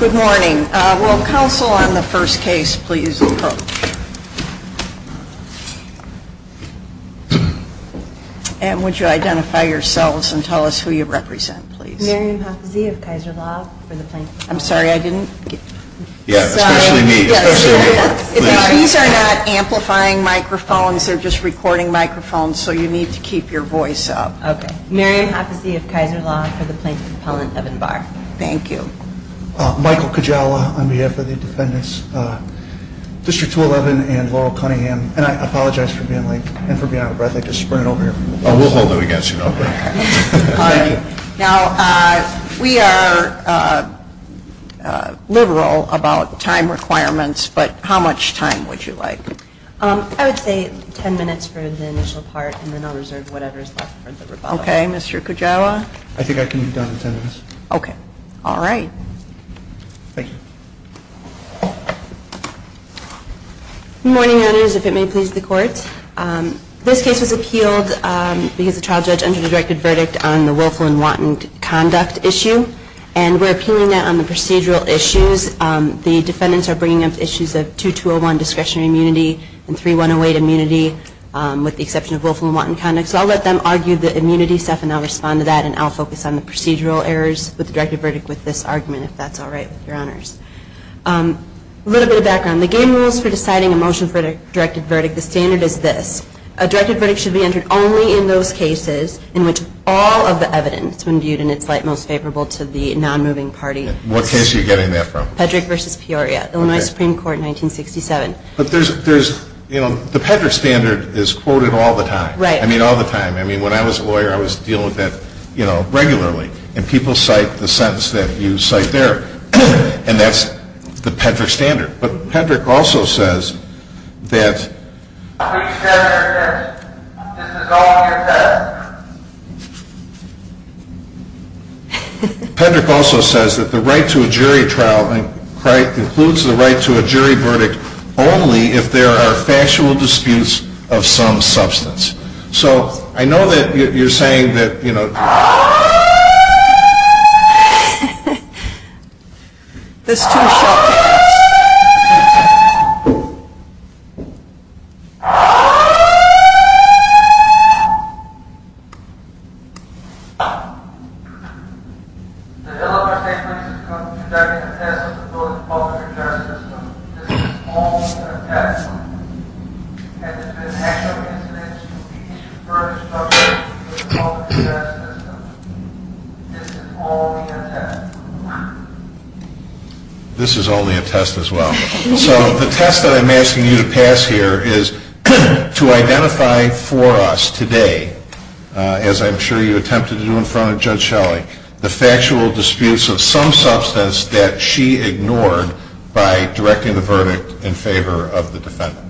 Good morning. Will counsel on the first case please approach? And would you identify yourselves and tell us who you represent, please? Mary Mhafizee of Kaiser Law for the plaintiff's appellant. I'm sorry, I didn't get... Yeah, especially me, especially me. These are not amplifying microphones, they're just recording microphones, so you need to keep your voice up. Okay. Mary Mhafizee of Kaiser Law for the plaintiff's appellant of Enbar. Thank you. Michael Kujawa on behalf of the defendants, District 211 and Laurel Cunningham. And I apologize for being late and for being out of breath, I just sprinted over here. We'll hold it against you. Now, we are liberal about time requirements, but how much time would you like? I would say ten minutes for the initial part and then I'll reserve whatever is left for the rebuttal. Okay, Mr. Kujawa? I think I can be done in ten minutes. Okay. All right. Thank you. Good morning, Your Honors, if it may please the Court. This case was appealed because the trial judge under-directed verdict on the willful and wanton conduct issue. And we're appealing that on the procedural issues. The defendants are bringing up issues of 2201 discretionary immunity and 3108 immunity with the exception of willful and wanton conduct. So I'll let them argue the immunity stuff and I'll respond to that and I'll focus on the procedural errors with the directed verdict with this argument, if that's all right with Your Honors. A little bit of background. The game rules for deciding a motion for a directed verdict, the standard is this. A directed verdict should be entered only in those cases in which all of the evidence when viewed in its light most favorable to the non-moving party. What case are you getting that from? Pedrick v. Peoria, Illinois Supreme Court, 1967. But there's, you know, the Pedrick standard is quoted all the time. I mean, all the time. I mean, when I was a lawyer, I was dealing with that, you know, regularly. And people cite the sentence that you cite there. And that's the Pedrick standard. But Pedrick also says that the right to a jury trial includes the right to a jury verdict only if there are factual disputes of some substance. So I know that you're saying that, you know. That's too shocking. This is only a test as well. So the test that I'm asking you to pass here is to identify for us today, as I'm sure you attempted to do in front of Judge Shelley, the factual disputes of some substance that she ignored by directing the verdict in favor of the defendant.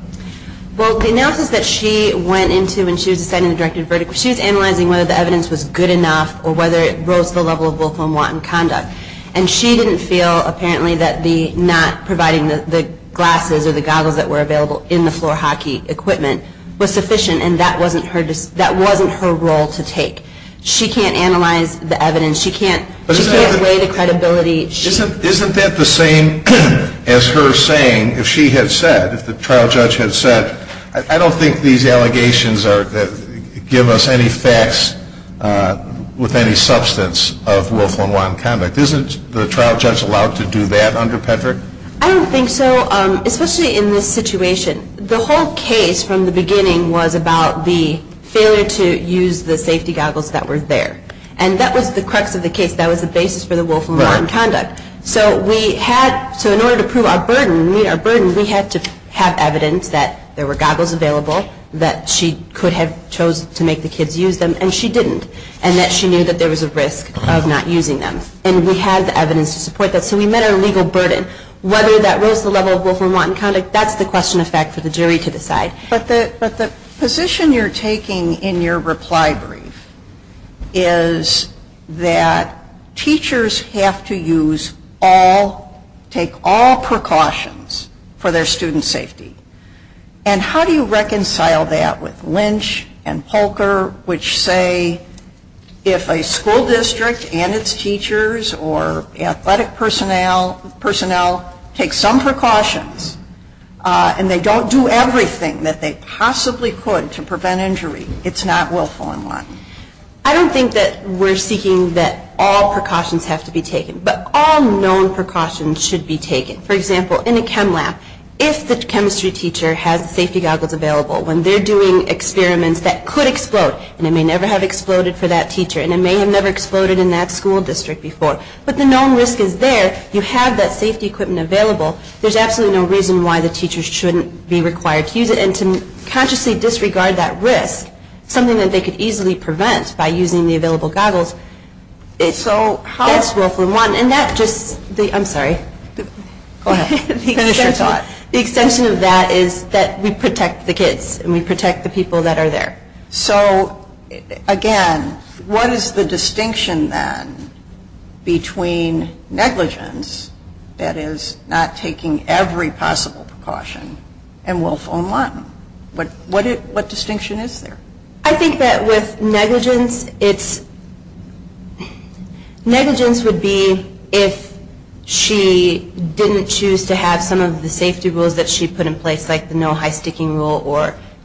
Well, the analysis that she went into when she was deciding the directed verdict, she was analyzing whether the evidence was good enough or whether it rose to the level of willful and wanton conduct. And she didn't feel, apparently, that the not providing the glasses or the goggles that were available in the floor hockey equipment was sufficient. And that wasn't her role to take. She can't analyze the evidence. She can't weigh the credibility. Isn't that the same as her saying, if she had said, if the trial judge had said, I don't think these allegations give us any facts with any substance of willful and wanton conduct. Isn't the trial judge allowed to do that under Petrick? I don't think so, especially in this situation. The whole case from the beginning was about the failure to use the safety goggles that were there. And that was the crux of the case. That was the basis for the willful and wanton conduct. So in order to prove our burden, we had to have evidence that there were goggles available, that she could have chosen to make the kids use them, and she didn't. And that she knew that there was a risk of not using them. And we had the evidence to support that. So we met our legal burden. Whether that rose to the level of willful and wanton conduct, that's the question of fact for the jury to decide. But the position you're taking in your reply brief is that teachers have to use all, take all precautions for their students' safety. And how do you reconcile that with Lynch and Polker, which say if a school district and its teachers or athletic personnel take some precautions and they don't do everything that they possibly could to prevent injury, it's not willful and wanton? I don't think that we're seeking that all precautions have to be taken. But all known precautions should be taken. For example, in a chem lab, if the chemistry teacher has the safety goggles available, when they're doing experiments that could explode, and it may never have exploded for that teacher, and it may have never exploded in that school district before, but the known risk is there, you have that safety equipment available. There's absolutely no reason why the teachers shouldn't be required to use it. And to consciously disregard that risk, something that they could easily prevent by using the available goggles, that's willful and wanton. And that just, I'm sorry. Go ahead. Finish your thought. The extension of that is that we protect the kids and we protect the people that are there. So, again, what is the distinction, then, between negligence, that is not taking every possible precaution, and willful and wanton? What distinction is there? I think that with negligence, it's, negligence would be if she didn't choose to have some of the safety rules that she put in place, like the no high-sticking rule.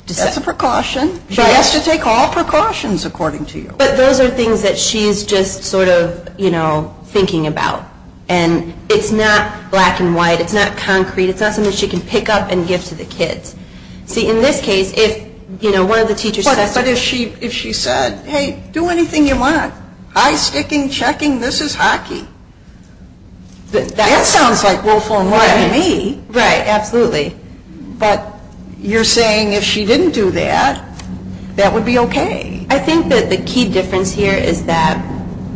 That's a precaution. She has to take all precautions, according to you. But those are things that she's just sort of, you know, thinking about. And it's not black and white. It's not concrete. It's not something she can pick up and give to the kids. See, in this case, if, you know, one of the teachers says... But if she said, hey, do anything you want. High-sticking, checking, this is hockey. That sounds like willful and wanton to me. Right. Absolutely. But you're saying if she didn't do that, that would be okay. I think that the key difference here is that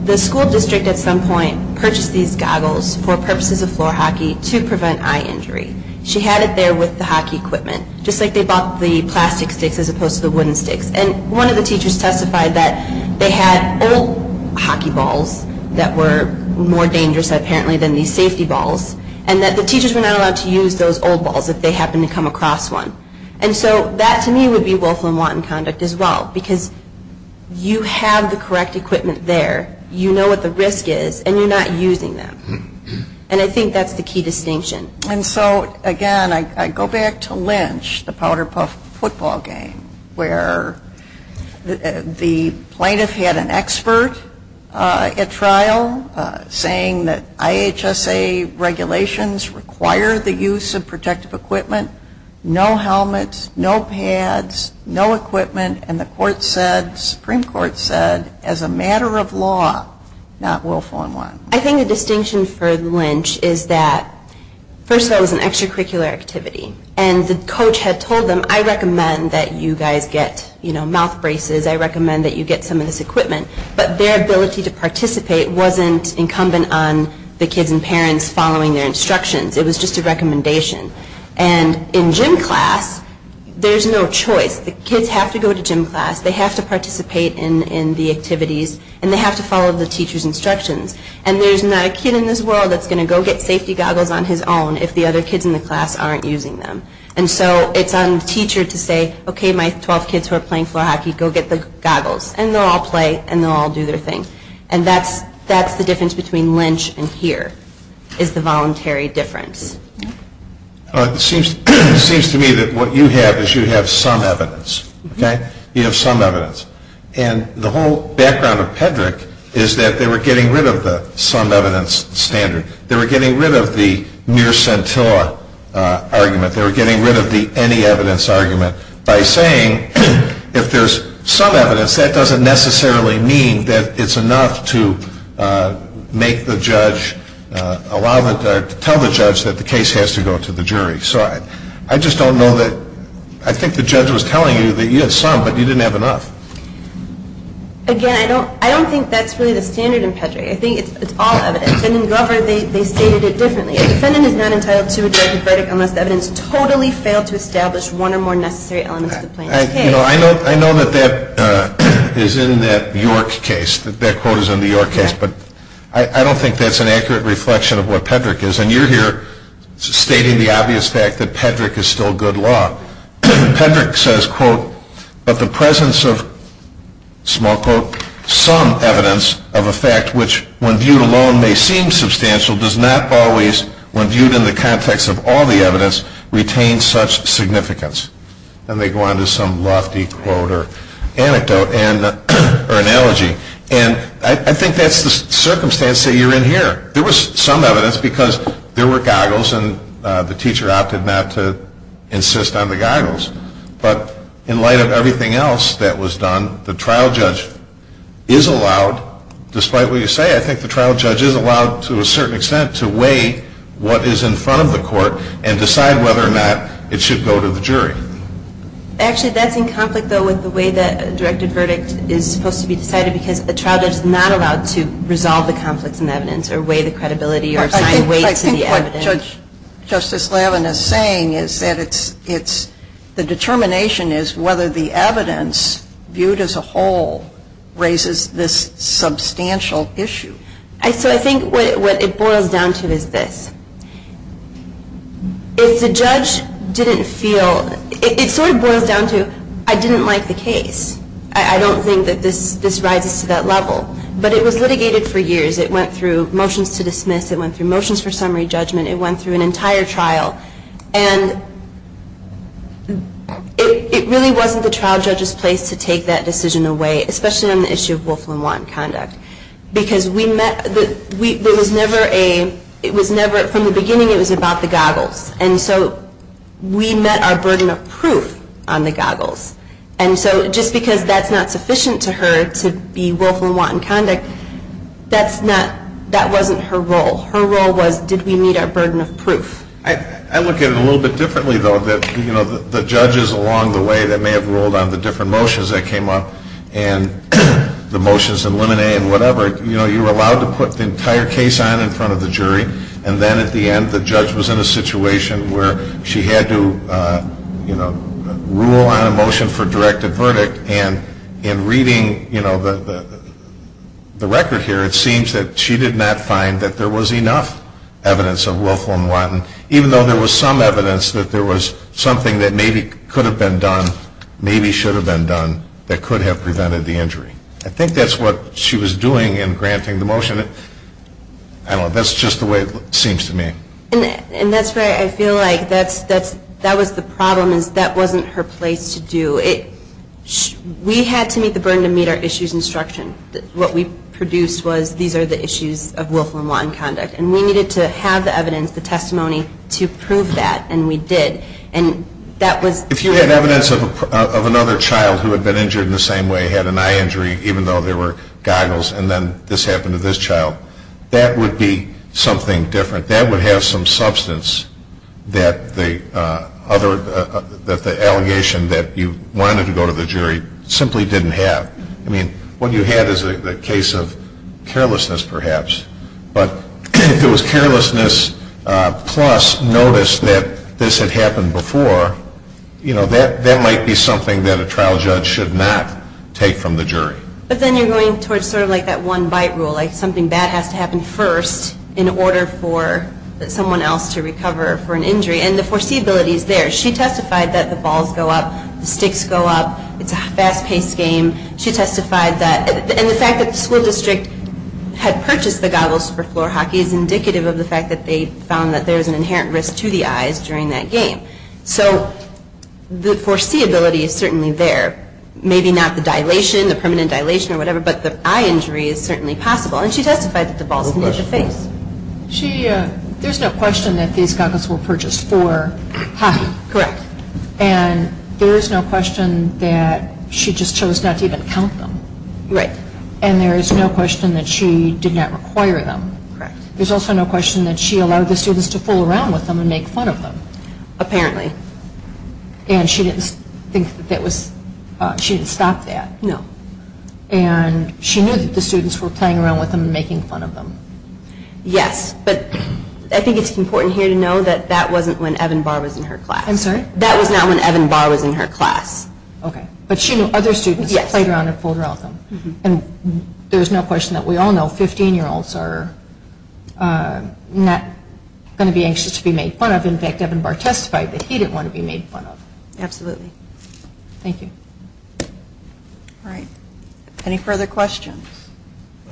the school district, at some point, purchased these goggles for purposes of floor hockey to prevent eye injury. She had it there with the hockey equipment, just like they bought the plastic sticks as opposed to the wooden sticks. And one of the teachers testified that they had old hockey balls that were more dangerous, apparently, than these safety balls, and that the teachers were not allowed to use those old balls if they happened to come across one. And so that, to me, would be willful and wanton conduct as well, because you have the correct equipment there, you know what the risk is, and you're not using them. And I think that's the key distinction. And so, again, I go back to Lynch, the Powder Puff football game, where the plaintiff had an expert at trial saying that IHSA regulations require the use of protective equipment. No helmets, no pads, no equipment. And the Supreme Court said, as a matter of law, not willful and wanton. I think the distinction for Lynch is that, first of all, it was an extracurricular activity. And the coach had told them, I recommend that you guys get, you know, mouth braces, I recommend that you get some of this equipment. But their ability to participate wasn't incumbent on the kids and parents following their instructions. It was just a recommendation. And in gym class, there's no choice. The kids have to go to gym class, they have to participate in the activities, and they have to follow the teacher's instructions. And there's not a kid in this world that's going to go get safety goggles on his own if the other kids in the class aren't using them. And so it's on the teacher to say, okay, my 12 kids who are playing floor hockey, go get the goggles. And they'll all play and they'll all do their thing. And that's the difference between Lynch and here, is the voluntary difference. It seems to me that what you have is you have some evidence. Okay? You have some evidence. And the whole background of Pedrick is that they were getting rid of the some evidence standard. They were getting rid of the mere scintilla argument. They were getting rid of the any evidence argument by saying, if there's some evidence, that doesn't necessarily mean that it's enough to make the judge allow it or tell the judge that the case has to go to the jury. So I just don't know that ‑‑ I think the judge was telling you that you had some, but you didn't have enough. Again, I don't think that's really the standard in Pedrick. I think it's all evidence. And in Guelpher, they stated it differently. A defendant is not entitled to a directed verdict unless the evidence totally failed to establish one or more necessary elements of the plaintiff's case. You know, I know that that is in that York case. That quote is in the York case. But I don't think that's an accurate reflection of what Pedrick is. And you're here stating the obvious fact that Pedrick is still good law. Pedrick says, quote, but the presence of, small quote, some evidence of a fact which, when viewed alone, may seem substantial, does not always, when viewed in the context of all the evidence, retain such significance. And they go on to some lofty quote or anecdote or analogy. And I think that's the circumstance that you're in here. There was some evidence because there were goggles and the teacher opted not to insist on the goggles. But in light of everything else that was done, the trial judge is allowed, despite what you say, I think the trial judge is allowed to a certain extent to weigh what is in front of the court and decide whether or not it should go to the jury. Actually, that's in conflict, though, with the way that a directed verdict is supposed to be decided because the trial judge is not allowed to resolve the conflicts in evidence or weigh the credibility or assign weight to the evidence. I think what Justice Laven is saying is that the determination is whether the evidence, viewed as a whole, raises this substantial issue. So I think what it boils down to is this. If the judge didn't feel, it sort of boils down to, I didn't like the case. I don't think that this rises to that level. But it was litigated for years. It went through motions to dismiss. It went through motions for summary judgment. It went through an entire trial. And it really wasn't the trial judge's place to take that decision away, especially on the issue of Wolf and Watton conduct. Because we met, there was never a, it was never, from the beginning it was about the goggles. And so we met our burden of proof on the goggles. And so just because that's not sufficient to her to be Wolf and Watton conduct, that's not, that wasn't her role. Her role was did we meet our burden of proof. I look at it a little bit differently, though, that, you know, the judges along the way that may have ruled on the different motions that came up and the motions in Lemonet and whatever, you know, you were allowed to put the entire case on in front of the jury. And then at the end the judge was in a situation where she had to, you know, rule on a motion for directed verdict. And in reading, you know, the record here, it seems that she did not find that there was enough evidence of Wolf and Watton, even though there was some evidence that there was something that maybe could have been done, maybe should have been done, that could have prevented the injury. I think that's what she was doing in granting the motion. I don't know. That's just the way it seems to me. And that's where I feel like that was the problem is that wasn't her place to do it. We had to meet the burden to meet our issues instruction. What we produced was these are the issues of Wolf and Watton conduct. And we needed to have the evidence, the testimony, to prove that, and we did. And that was – If you had evidence of another child who had been injured in the same way, had an eye injury, even though there were goggles, and then this happened to this child, that would be something different. That would have some substance that the other – that the allegation that you wanted to go to the jury simply didn't have. I mean, what you had is a case of carelessness, perhaps. But if it was carelessness plus notice that this had happened before, you know, that might be something that a trial judge should not take from the jury. But then you're going towards sort of like that one-bite rule, like something bad has to happen first in order for someone else to recover for an injury. And the foreseeability is there. She testified that the balls go up, the sticks go up, it's a fast-paced game. She testified that – and the fact that the school district had purchased the goggles for floor hockey is indicative of the fact that they found that there was an inherent risk to the eyes during that game. So the foreseeability is certainly there. Maybe not the dilation, the permanent dilation or whatever, but the eye injury is certainly possible. And she testified that the balls hit the face. There's no question that these goggles were purchased for hockey. Correct. And there is no question that she just chose not to even count them. Right. And there is no question that she did not require them. Correct. There's also no question that she allowed the students to fool around with them and make fun of them. Apparently. And she didn't stop that. No. And she knew that the students were playing around with them and making fun of them. Yes. But I think it's important here to know that that wasn't when Evan Barr was in her class. I'm sorry? That was not when Evan Barr was in her class. Okay. But she knew other students played around and fooled around with them. And there's no question that we all know 15-year-olds are not going to be anxious to be made fun of. In fact, Evan Barr testified that he didn't want to be made fun of. Absolutely. Thank you. All right. Any further questions?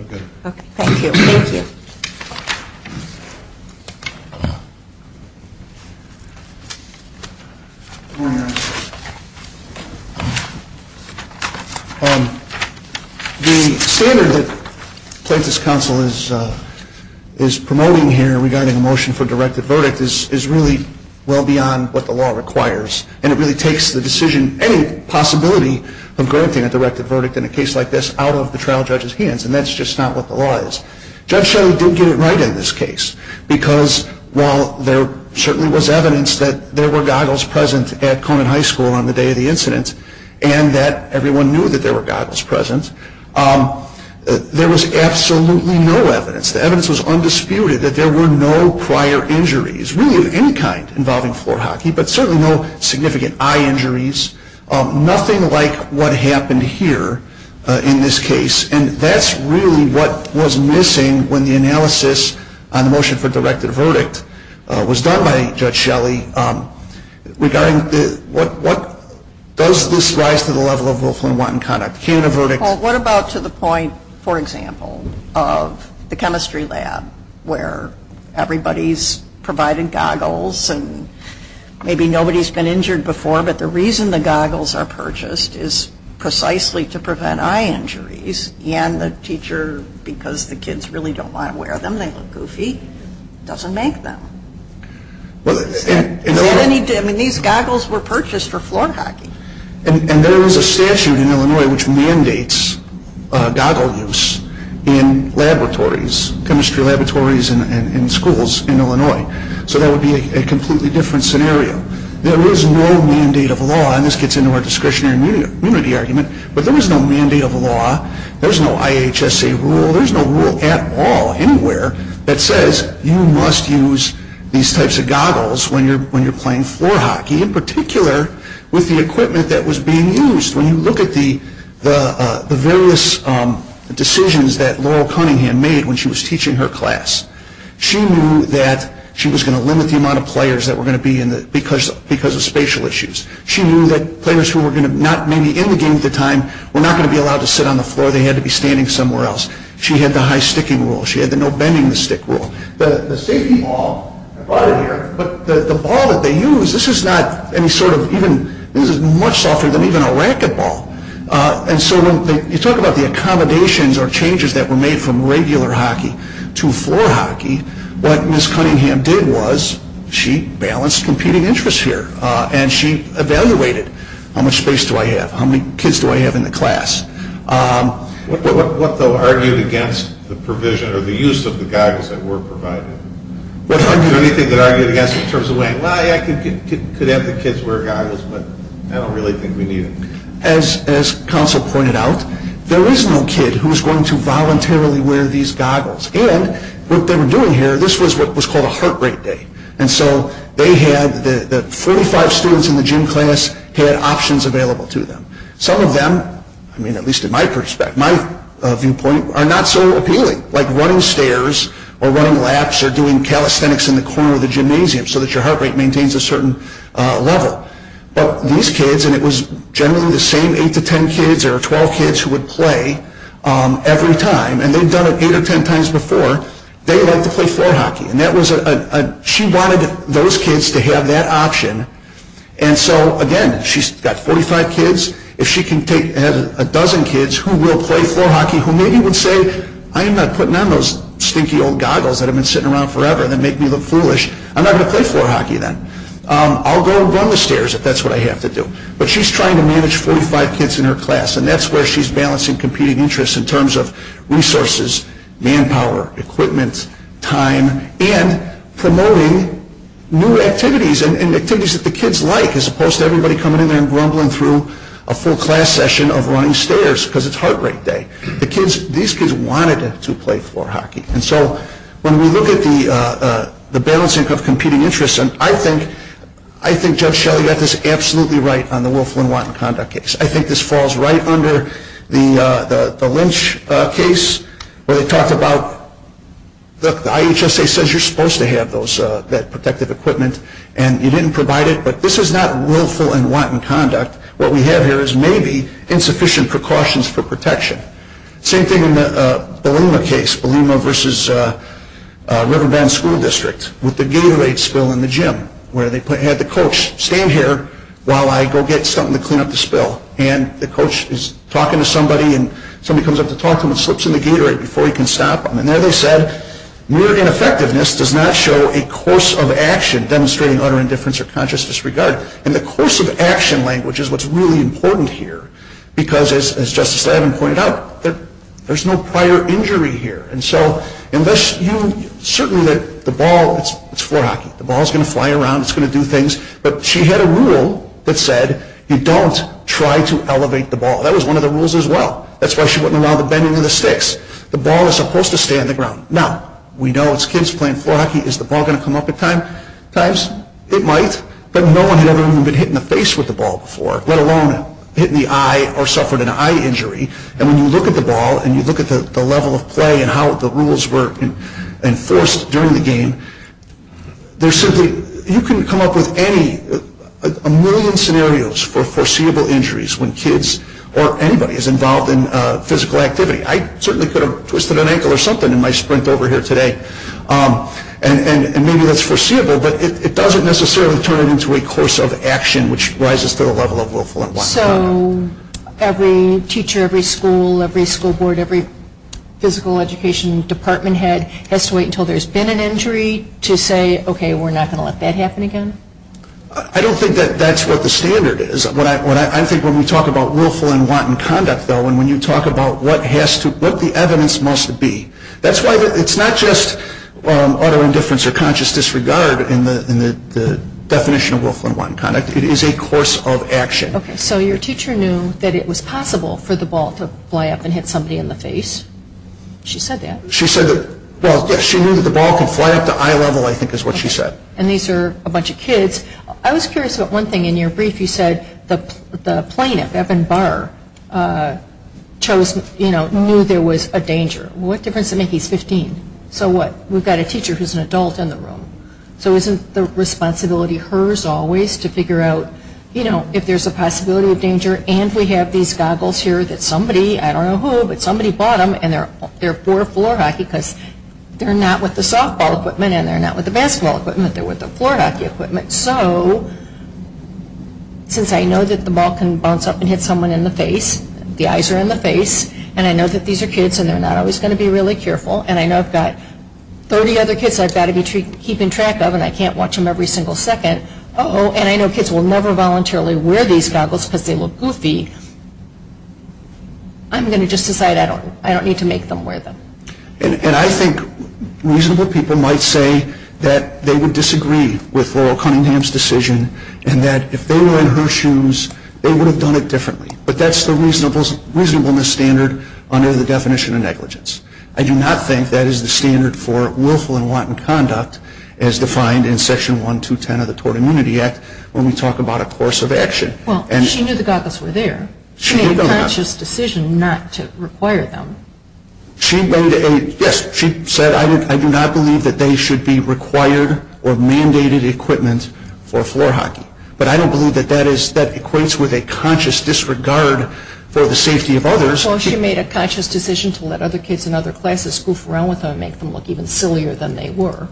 Okay. Okay. Thank you. Thank you. Good morning, Your Honor. The standard that Plaintiff's Counsel is promoting here regarding a motion for a directive verdict is really well beyond what the law requires. And it really takes the decision, any possibility of granting a directive verdict in a case like this, out of the trial judge's hands. And that's just not what the law is. Judge Shelley did get it right in this case. Because while there certainly was evidence that there were goggles present at Conant High School on the day of the incident, and that everyone knew that there were goggles present, there was absolutely no evidence. The evidence was undisputed that there were no prior injuries, really of any kind, involving floor hockey, but certainly no significant eye injuries, nothing like what happened here in this case. And that's really what was missing when the analysis on the motion for directive verdict was done by Judge Shelley, regarding what does this rise to the level of Wilflin-Wanton conduct? Can a verdict? Well, what about to the point, for example, of the chemistry lab, where everybody's provided goggles and maybe nobody's been injured before, but the reason the goggles are purchased is precisely to prevent eye injuries. And the teacher, because the kids really don't want to wear them, they look goofy, doesn't make them. I mean, these goggles were purchased for floor hockey. And there is a statute in Illinois which mandates goggle use in laboratories, chemistry laboratories and schools in Illinois. So that would be a completely different scenario. There is no mandate of law, and this gets into our discretionary immunity argument, but there is no mandate of law, there's no IHSA rule, there's no rule at all, anywhere, that says you must use these types of goggles when you're playing floor hockey, in particular with the equipment that was being used. When you look at the various decisions that Laurel Cunningham made when she was teaching her class, she knew that she was going to limit the amount of players that were going to be in the, because of spatial issues. She knew that players who were going to not maybe be in the game at the time were not going to be allowed to sit on the floor, they had to be standing somewhere else. She had the high-sticking rule, she had the no-bending-the-stick rule. The safety ball, I brought it here, but the ball that they use, this is not any sort of, this is much softer than even a racquetball. And so when you talk about the accommodations or changes that were made from regular hockey to floor hockey, what Ms. Cunningham did was she balanced competing interests here, and she evaluated how much space do I have, how many kids do I have in the class. What though argued against the provision or the use of the goggles that were provided? Anything that argued against it in terms of, well, yeah, I could have the kids wear goggles, but I don't really think we need them. As counsel pointed out, there is no kid who is going to voluntarily wear these goggles. And what they were doing here, this was what was called a heart rate day. And so they had, the 45 students in the gym class had options available to them. Some of them, I mean at least in my perspective, my viewpoint, are not so appealing, like running stairs or running laps or doing calisthenics in the corner of the gymnasium so that your heart rate maintains a certain level. But these kids, and it was generally the same 8 to 10 kids or 12 kids who would play every time, and they've done it 8 or 10 times before, they like to play floor hockey. And that was a, she wanted those kids to have that option. And so, again, she's got 45 kids. If she can have a dozen kids who will play floor hockey who maybe would say, I am not putting on those stinky old goggles that have been sitting around forever that make me look foolish. I'm not going to play floor hockey then. I'll go run the stairs if that's what I have to do. But she's trying to manage 45 kids in her class, and that's where she's balancing competing interests in terms of resources, manpower, equipment, time, and promoting new activities and activities that the kids like as opposed to everybody coming in there and grumbling through a full class session of running stairs because it's heart rate day. These kids wanted to play floor hockey. And so when we look at the balancing of competing interests, and I think Judge Shelley got this absolutely right on the willful and wanton conduct case. I think this falls right under the Lynch case where they talked about, look, the IHSA says you're supposed to have that protective equipment, and you didn't provide it, but this is not willful and wanton conduct. What we have here is maybe insufficient precautions for protection. Same thing in the Belima case, Belima versus River Bend School District, with the Gatorade spill in the gym where they had the coach stand here while I go get something to clean up the spill. And the coach is talking to somebody, and somebody comes up to talk to him and slips him the Gatorade before he can stop him. And there they said, mere ineffectiveness does not show a course of action demonstrating utter indifference or conscious disregard. And the course of action language is what's really important here because, as Justice Staben pointed out, there's no prior injury here. And so unless you, certainly the ball, it's floor hockey, the ball is going to fly around, it's going to do things, but she had a rule that said you don't try to elevate the ball. That was one of the rules as well. That's why she wouldn't allow the bending of the sticks. The ball is supposed to stay on the ground. Now, we know it's kids playing floor hockey. Is the ball going to come up at times? It might, but no one had ever even been hit in the face with the ball before, let alone hit in the eye or suffered an eye injury. And when you look at the ball and you look at the level of play and how the rules were enforced during the game, you can come up with a million scenarios for foreseeable injuries when kids or anybody is involved in physical activity. I certainly could have twisted an ankle or something in my sprint over here today, and maybe that's foreseeable, but it doesn't necessarily turn it into a course of action which rises to the level of willful and wanton conduct. So every teacher, every school, every school board, every physical education department head has to wait until there's been an injury to say, okay, we're not going to let that happen again? I don't think that that's what the standard is. I think when we talk about willful and wanton conduct, though, and when you talk about what the evidence must be. That's why it's not just utter indifference or conscious disregard in the definition of willful and wanton conduct. It is a course of action. Okay, so your teacher knew that it was possible for the ball to fly up and hit somebody in the face. She said that. She said that. Well, yes, she knew that the ball could fly up to eye level, I think is what she said. And these are a bunch of kids. I was curious about one thing in your brief. You said the plaintiff, Evan Barr, knew there was a danger. What difference does it make? He's 15. So what? We've got a teacher who's an adult in the room. So isn't the responsibility hers always to figure out, you know, if there's a possibility of danger, and we have these goggles here that somebody, I don't know who, but somebody bought them, and they're for floor hockey because they're not with the softball equipment and they're not with the basketball equipment. They're with the floor hockey equipment. So since I know that the ball can bounce up and hit someone in the face, the eyes are in the face, and I know that these are kids and they're not always going to be really careful, and I know I've got 30 other kids I've got to be keeping track of and I can't watch them every single second. Uh-oh, and I know kids will never voluntarily wear these goggles because they look goofy. I'm going to just decide I don't need to make them wear them. And I think reasonable people might say that they would disagree with Laurel Cunningham's decision and that if they were in her shoes, they would have done it differently. But that's the reasonableness standard under the definition of negligence. I do not think that is the standard for willful and wanton conduct as defined in Section 1210 of the Tort Immunity Act when we talk about a course of action. Well, she knew the goggles were there. She made a conscious decision not to require them. Yes, she said I do not believe that they should be required or mandated equipment for floor hockey. But I don't believe that that equates with a conscious disregard for the safety of others. Well, she made a conscious decision to let other kids in other classes goof around with them and make them look even sillier than they were.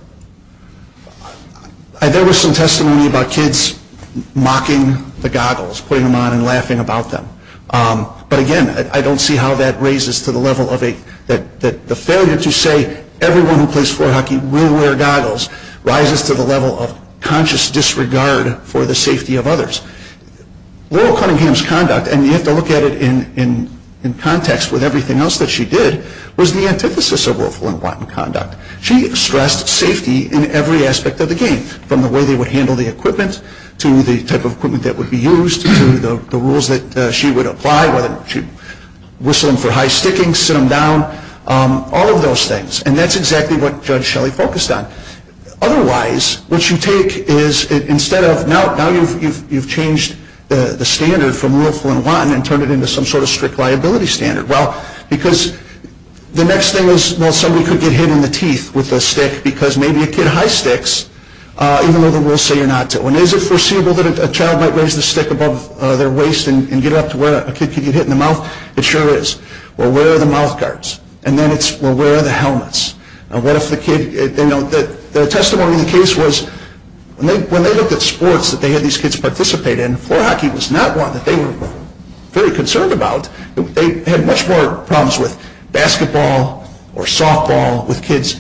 There was some testimony about kids mocking the goggles, putting them on and laughing about them. But again, I don't see how that raises to the level of the failure to say everyone who plays floor hockey will wear goggles rises to the level of conscious disregard for the safety of others. Laurel Cunningham's conduct, and you have to look at it in context with everything else that she did, was the antithesis of willful and wanton conduct. She stressed safety in every aspect of the game, from the way they would handle the equipment to the type of equipment that would be used to the rules that she would apply, whether to whistle them for high sticking, sit them down, all of those things. And that's exactly what Judge Shelley focused on. Otherwise, what you take is instead of, now you've changed the standard from willful and wanton and turned it into some sort of strict liability standard. Well, because the next thing is, well, somebody could get hit in the teeth with a stick because maybe a kid high sticks, even though the rules say you're not to. And is it foreseeable that a child might raise the stick above their waist and get up to where a kid could get hit in the mouth? It sure is. Well, where are the mouth guards? And then it's, well, where are the helmets? And what if the kid, you know, the testimony of the case was, when they looked at sports that they had these kids participate in, floor hockey was not one that they were very concerned about. They had much more problems with basketball or softball, with kids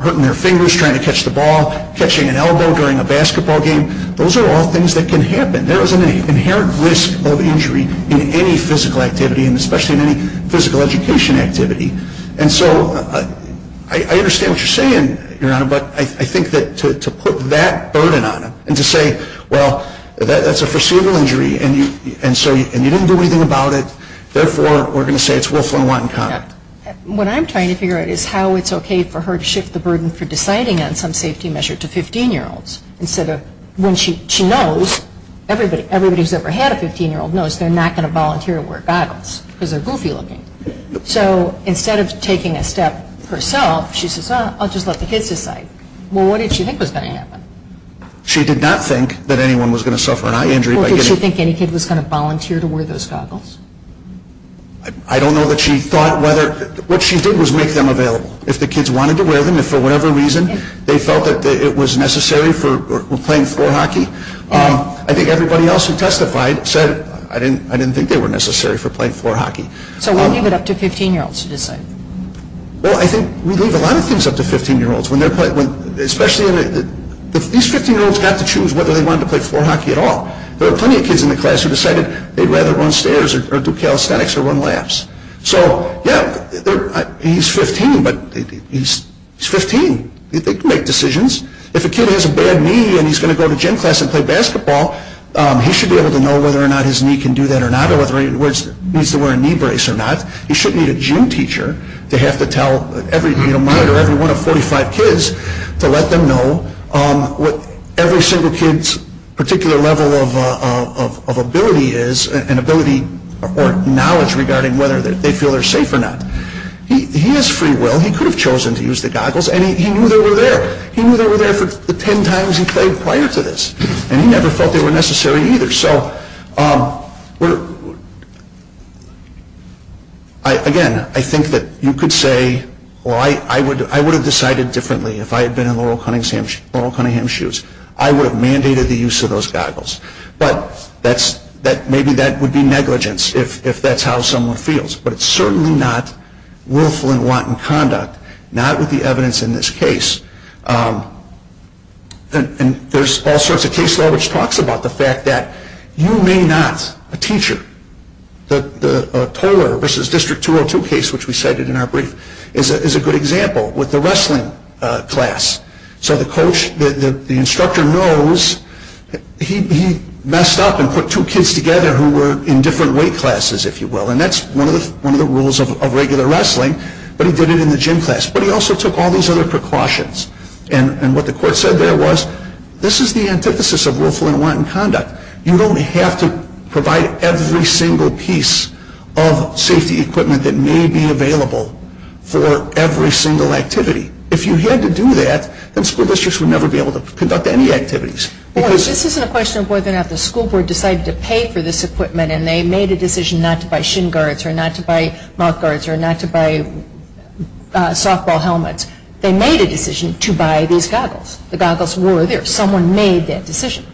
hurting their fingers trying to catch the ball, catching an elbow during a basketball game. Those are all things that can happen. There is an inherent risk of injury in any physical activity, and especially in any physical education activity. And so I understand what you're saying, Your Honor, but I think that to put that burden on them and to say, well, that's a foreseeable injury and you didn't do anything about it, therefore we're going to say it's Wolf and Watt and Conner. What I'm trying to figure out is how it's okay for her to shift the burden for deciding on some safety measure to 15-year-olds instead of when she knows, everybody who's ever had a 15-year-old knows they're not going to volunteer to wear goggles because they're goofy looking. So instead of taking a step herself, she says, I'll just let the kids decide. Well, what did she think was going to happen? She did not think that anyone was going to suffer an eye injury. Well, did she think any kid was going to volunteer to wear those goggles? I don't know that she thought whether, what she did was make them available. If the kids wanted to wear them, if for whatever reason they felt that it was necessary for playing floor hockey, I think everybody else who testified said I didn't think they were necessary for playing floor hockey. So we'll leave it up to 15-year-olds to decide. Well, I think we leave a lot of things up to 15-year-olds, especially if these 15-year-olds got to choose whether they wanted to play floor hockey at all. There are plenty of kids in the class who decided they'd rather run stairs or do calisthenics or run laps. So, yeah, he's 15, but he's 15. They can make decisions. If a kid has a bad knee and he's going to go to gym class and play basketball, he should be able to know whether or not his knee can do that or not or whether he needs to wear a knee brace or not. He shouldn't need a gym teacher to have to tell every minor, every one of 45 kids, to let them know what every single kid's particular level of ability is or knowledge regarding whether they feel they're safe or not. He has free will. Well, he could have chosen to use the goggles, and he knew they were there. He knew they were there for the ten times he played prior to this, and he never felt they were necessary either. So, again, I think that you could say, well, I would have decided differently if I had been in Laurel Cunningham's shoes. I would have mandated the use of those goggles. But maybe that would be negligence if that's how someone feels. But it's certainly not willful and wanton conduct, not with the evidence in this case. And there's all sorts of case law which talks about the fact that you may not, a teacher, the Toler versus District 202 case, which we cited in our brief, is a good example with the wrestling class. So the instructor knows he messed up and put two kids together who were in different weight classes, if you will. And that's one of the rules of regular wrestling, but he did it in the gym class. But he also took all these other precautions. And what the court said there was, this is the antithesis of willful and wanton conduct. You don't have to provide every single piece of safety equipment that may be available for every single activity. If you had to do that, then school districts would never be able to conduct any activities. This isn't a question of whether or not the school board decided to pay for this equipment and they made a decision not to buy shin guards or not to buy mouth guards or not to buy softball helmets. They made a decision to buy these goggles. The goggles were there. Someone made that decision.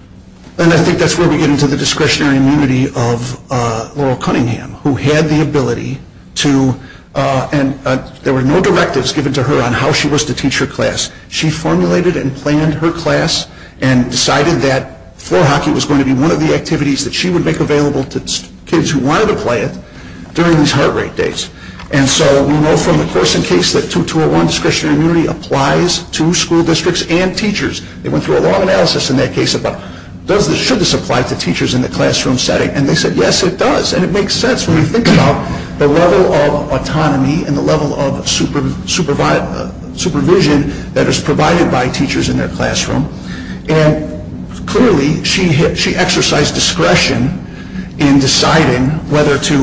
And I think that's where we get into the discretionary immunity of Laurel Cunningham, who had the ability to, and there were no directives given to her on how she was to teach her class. She formulated and planned her class and decided that floor hockey was going to be one of the activities that she would make available to kids who wanted to play it during these heart rate days. And so we know from the Corson case that 2201 discretionary immunity applies to school districts and teachers. They went through a long analysis in that case about should this apply to teachers in the classroom setting. And they said, yes, it does. And it makes sense when you think about the level of autonomy and the level of supervision that is provided by teachers in their classroom. And clearly she exercised discretion in deciding whether to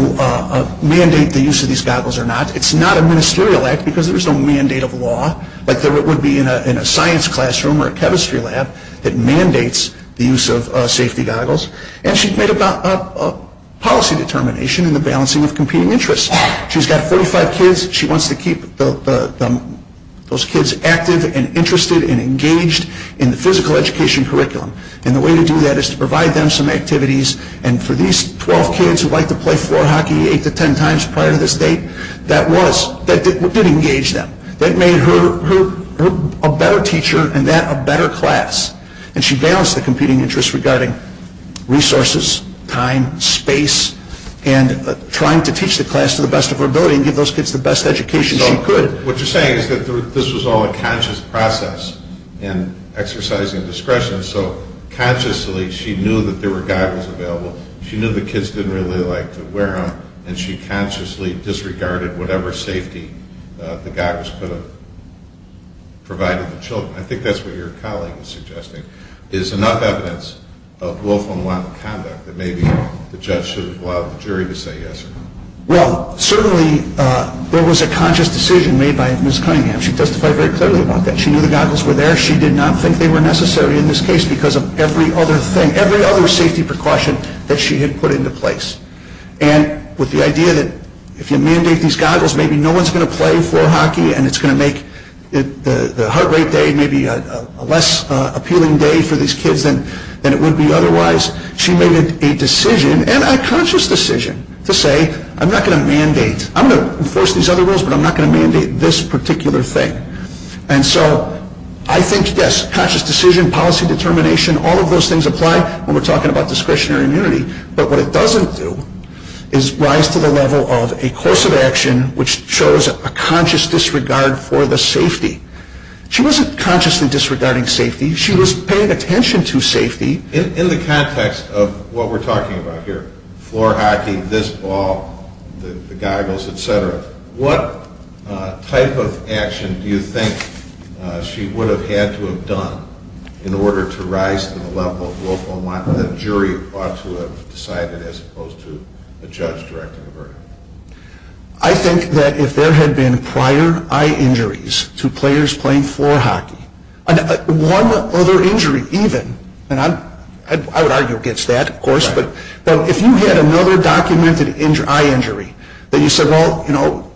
mandate the use of these goggles or not. It's not a ministerial act because there's no mandate of law, like there would be in a science classroom or a chemistry lab that mandates the use of safety goggles. And she made a policy determination in the balancing of competing interests. She's got 45 kids. She wants to keep those kids active and interested and engaged in the physical education curriculum. And the way to do that is to provide them some activities. And for these 12 kids who like to play floor hockey 8 to 10 times prior to this date, that did engage them. That made her a better teacher and that a better class. And she balanced the competing interests regarding resources, time, space, and trying to teach the class to the best of her ability and give those kids the best education she could. What you're saying is that this was all a conscious process in exercising discretion. So consciously she knew that there were goggles available. She knew the kids didn't really like to wear them. And she consciously disregarded whatever safety the goggles could have provided the children. I think that's what your colleague is suggesting, is enough evidence of lawful and lawful conduct that maybe the judge should have allowed the jury to say yes or no. Well, certainly there was a conscious decision made by Ms. Cunningham. She testified very clearly about that. She knew the goggles were there. She did not think they were necessary in this case because of every other thing, every other safety precaution that she had put into place. And with the idea that if you mandate these goggles, maybe no one's going to play floor hockey and it's going to make the heart rate day maybe a less appealing day for these kids than it would be otherwise, she made a decision, and a conscious decision, to say I'm not going to mandate. I'm going to enforce these other rules, but I'm not going to mandate this particular thing. And so I think, yes, conscious decision, policy determination, all of those things apply when we're talking about discretionary immunity. But what it doesn't do is rise to the level of a course of action which shows a conscious disregard for the safety. She wasn't consciously disregarding safety. She was paying attention to safety. In the context of what we're talking about here, floor hockey, this ball, the goggles, et cetera, what type of action do you think she would have had to have done in order to rise to the level of lawful and lawful? What would the jury ought to have decided as opposed to the judge directing the verdict? I think that if there had been prior eye injuries to players playing floor hockey, one other injury even, and I would argue against that, of course, but if you had another documented eye injury, that you said, well, you know,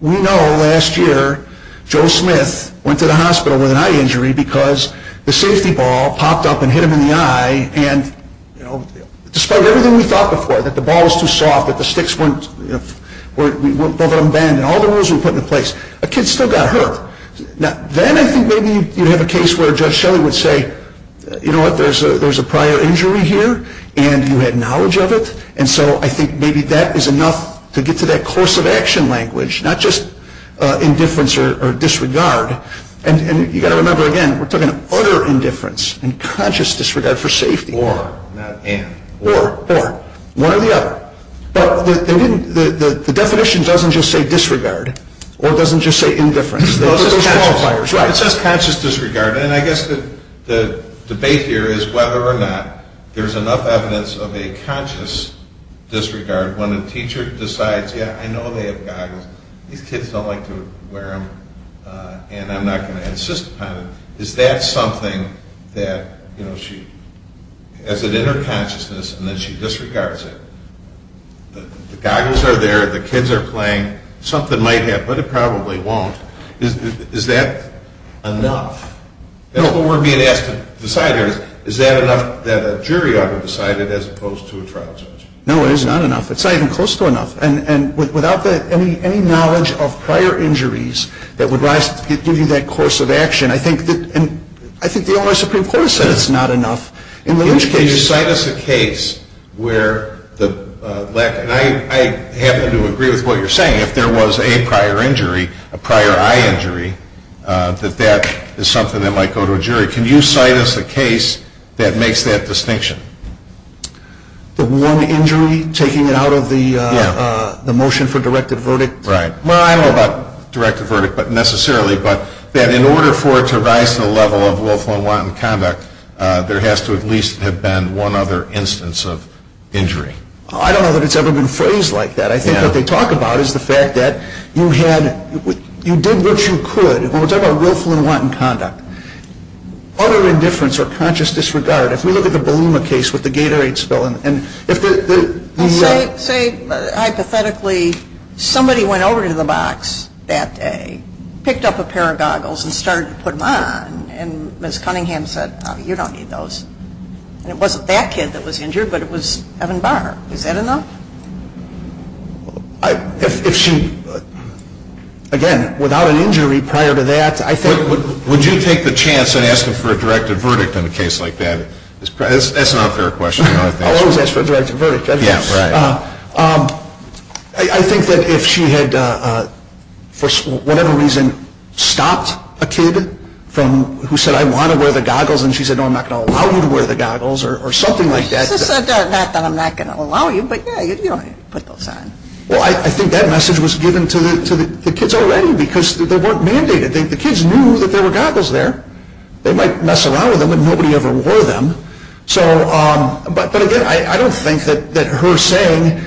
we know last year Joe Smith went to the hospital with an eye injury because the safety ball popped up and hit him in the eye and, you know, despite everything we thought before, that the ball was too soft, that the sticks weren't, you know, both of them bent, and all the rules we put in place, a kid still got hurt. Now, then I think maybe you'd have a case where Judge Shelley would say, you know what, there's a prior injury here and you had knowledge of it, and so I think maybe that is enough to get to that course of action language, not just indifference or disregard. And you've got to remember, again, we're talking utter indifference and conscious disregard for safety. Or, not in. Or, or, one or the other. But the definition doesn't just say disregard or it doesn't just say indifference. It says conscious disregard, and I guess the debate here is whether or not there's enough evidence of a conscious disregard when a teacher decides, yeah, I know they have goggles, these kids don't like to wear them, and I'm not going to insist upon it. Is that something that, you know, she has an inner consciousness and then she disregards it. The goggles are there, the kids are playing, something might happen, but it probably won't. Is that enough? What we're being asked to decide here is, is that enough that a jury ought to decide it as opposed to a trial judge? No, it is not enough. It's not even close to enough. And without any knowledge of prior injuries that would rise to give you that course of action, I think the Ohio Supreme Court has said it's not enough. Can you cite us a case where, and I happen to agree with what you're saying, if there was a prior injury, a prior eye injury, that that is something that might go to a jury. Can you cite us a case that makes that distinction? The one injury, taking it out of the motion for directed verdict? Right. Well, I don't know about directed verdict necessarily, but that in order for it to rise to the level of willful and wanton conduct, there has to at least have been one other instance of injury. I don't know that it's ever been phrased like that. I think what they talk about is the fact that you did what you could. When we're talking about willful and wanton conduct, utter indifference or conscious disregard, if we look at the Baluma case with the Gatorade spill. Say, hypothetically, somebody went over to the box that day, picked up a pair of goggles and started to put them on, and Ms. Cunningham said, you don't need those. And it wasn't that kid that was injured, but it was Evan Barr. Is that enough? If she, again, without an injury prior to that, I think. Would you take the chance and ask him for a directed verdict in a case like that? That's an unfair question. I'll always ask for a directed verdict. I think that if she had, for whatever reason, stopped a kid who said, I want to wear the goggles, and she said, no, I'm not going to allow you to wear the goggles or something like that. Not that I'm not going to allow you, but, yeah, you don't need to put those on. Well, I think that message was given to the kids already because they weren't mandated. The kids knew that there were goggles there. They might mess around with them, but nobody ever wore them. But, again, I don't think that her saying,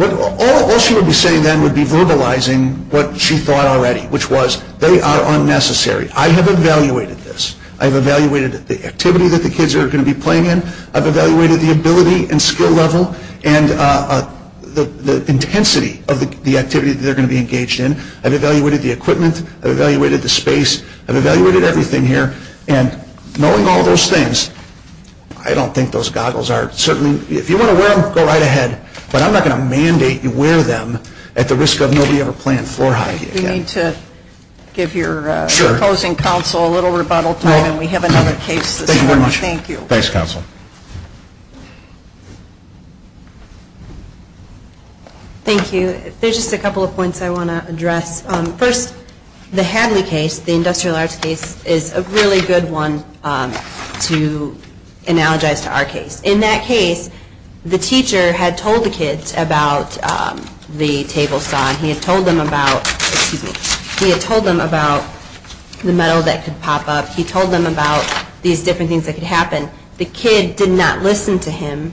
all she would be saying then would be verbalizing what she thought already, which was they are unnecessary. I have evaluated this. I've evaluated the activity that the kids are going to be playing in. I've evaluated the ability and skill level and the intensity of the activity that they're going to be engaged in. I've evaluated the equipment. I've evaluated the space. I've evaluated everything here. And knowing all those things, I don't think those goggles are certainly, if you want to wear them, go right ahead. But I'm not going to mandate you wear them at the risk of nobody ever playing floor hockey again. We need to give your opposing counsel a little rebuttal time, and we have another case this morning. Thank you. Thanks, counsel. Thank you. There's just a couple of points I want to address. First, the Hadley case, the industrial arts case, is a really good one to analogize to our case. In that case, the teacher had told the kids about the table saw, and he had told them about the metal that could pop up. He told them about these different things that could happen. The kid did not listen to him,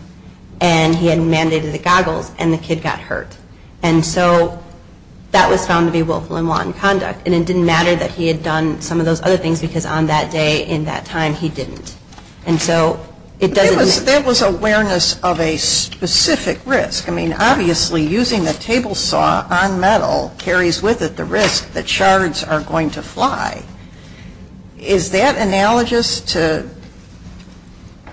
and he had mandated the goggles, and the kid got hurt. And so that was found to be willful and wanton conduct. And it didn't matter that he had done some of those other things, because on that day, in that time, he didn't. And so it doesn't make sense. That was awareness of a specific risk. I mean, obviously, using the table saw on metal carries with it the risk that shards are going to fly. Is that analogous to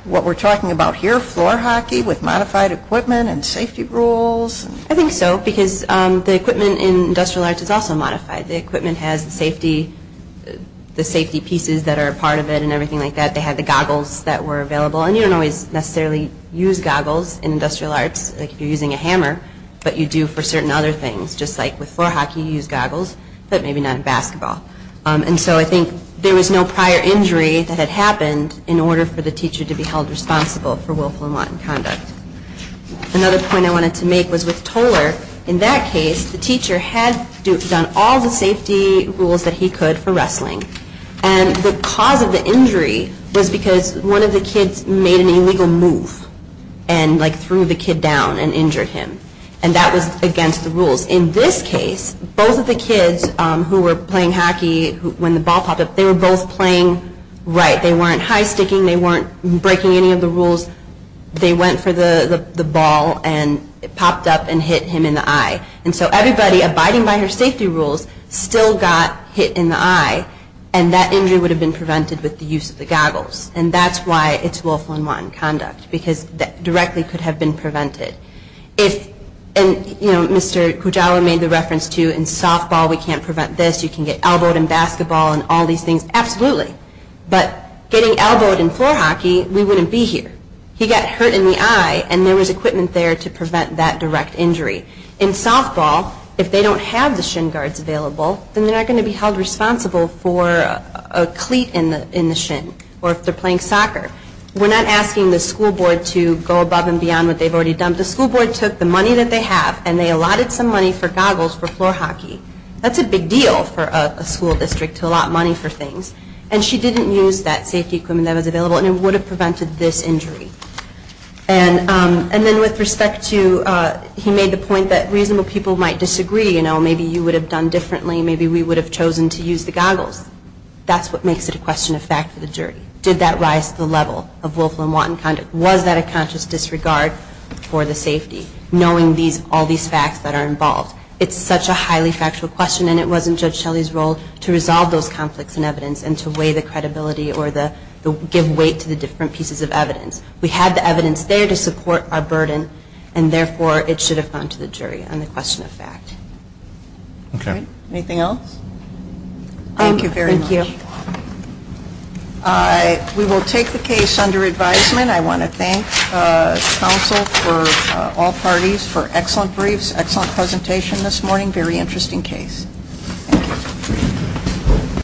what we're talking about here, floor hockey with modified equipment and safety rules? I think so, because the equipment in industrial arts is also modified. The equipment has the safety pieces that are a part of it and everything like that. They had the goggles that were available. And you don't always necessarily use goggles in industrial arts, like if you're using a hammer, but you do for certain other things, just like with floor hockey, you use goggles, but maybe not in basketball. And so I think there was no prior injury that had happened in order for the teacher to be held responsible for willful and wanton conduct. Another point I wanted to make was with Toler. In that case, the teacher had done all the safety rules that he could for wrestling. And the cause of the injury was because one of the kids made an illegal move and, like, threw the kid down and injured him. And that was against the rules. In this case, both of the kids who were playing hockey, when the ball popped up, they were both playing right. They weren't high-sticking. They weren't breaking any of the rules. They went for the ball, and it popped up and hit him in the eye. And so everybody, abiding by her safety rules, still got hit in the eye. And that injury would have been prevented with the use of the goggles. And that's why it's willful and wanton conduct, because that directly could have been prevented. And, you know, Mr. Kujawa made the reference to, in softball, we can't prevent this. You can get elbowed in basketball and all these things. Absolutely. But getting elbowed in floor hockey, we wouldn't be here. He got hurt in the eye, and there was equipment there to prevent that direct injury. In softball, if they don't have the shin guards available, then they're not going to be held responsible for a cleat in the shin, or if they're playing soccer. We're not asking the school board to go above and beyond what they've already done. The school board took the money that they have, and they allotted some money for goggles for floor hockey. That's a big deal for a school district to allot money for things. And she didn't use that safety equipment that was available, and it would have prevented this injury. And then with respect to, he made the point that reasonable people might disagree. You know, maybe you would have done differently. Maybe we would have chosen to use the goggles. That's what makes it a question of fact for the jury. Did that rise to the level of willful and wanton conduct? Was that a conscious disregard for the safety, knowing all these facts that are involved? It's such a highly factual question, and it wasn't Judge Shelley's role to resolve those conflicts in evidence and to weigh the credibility or give weight to the different pieces of evidence. We had the evidence there to support our burden, and therefore it should have gone to the jury on the question of fact. Anything else? Thank you very much. We will take the case under advisement. Again, I want to thank counsel for all parties for excellent briefs, excellent presentation this morning, very interesting case.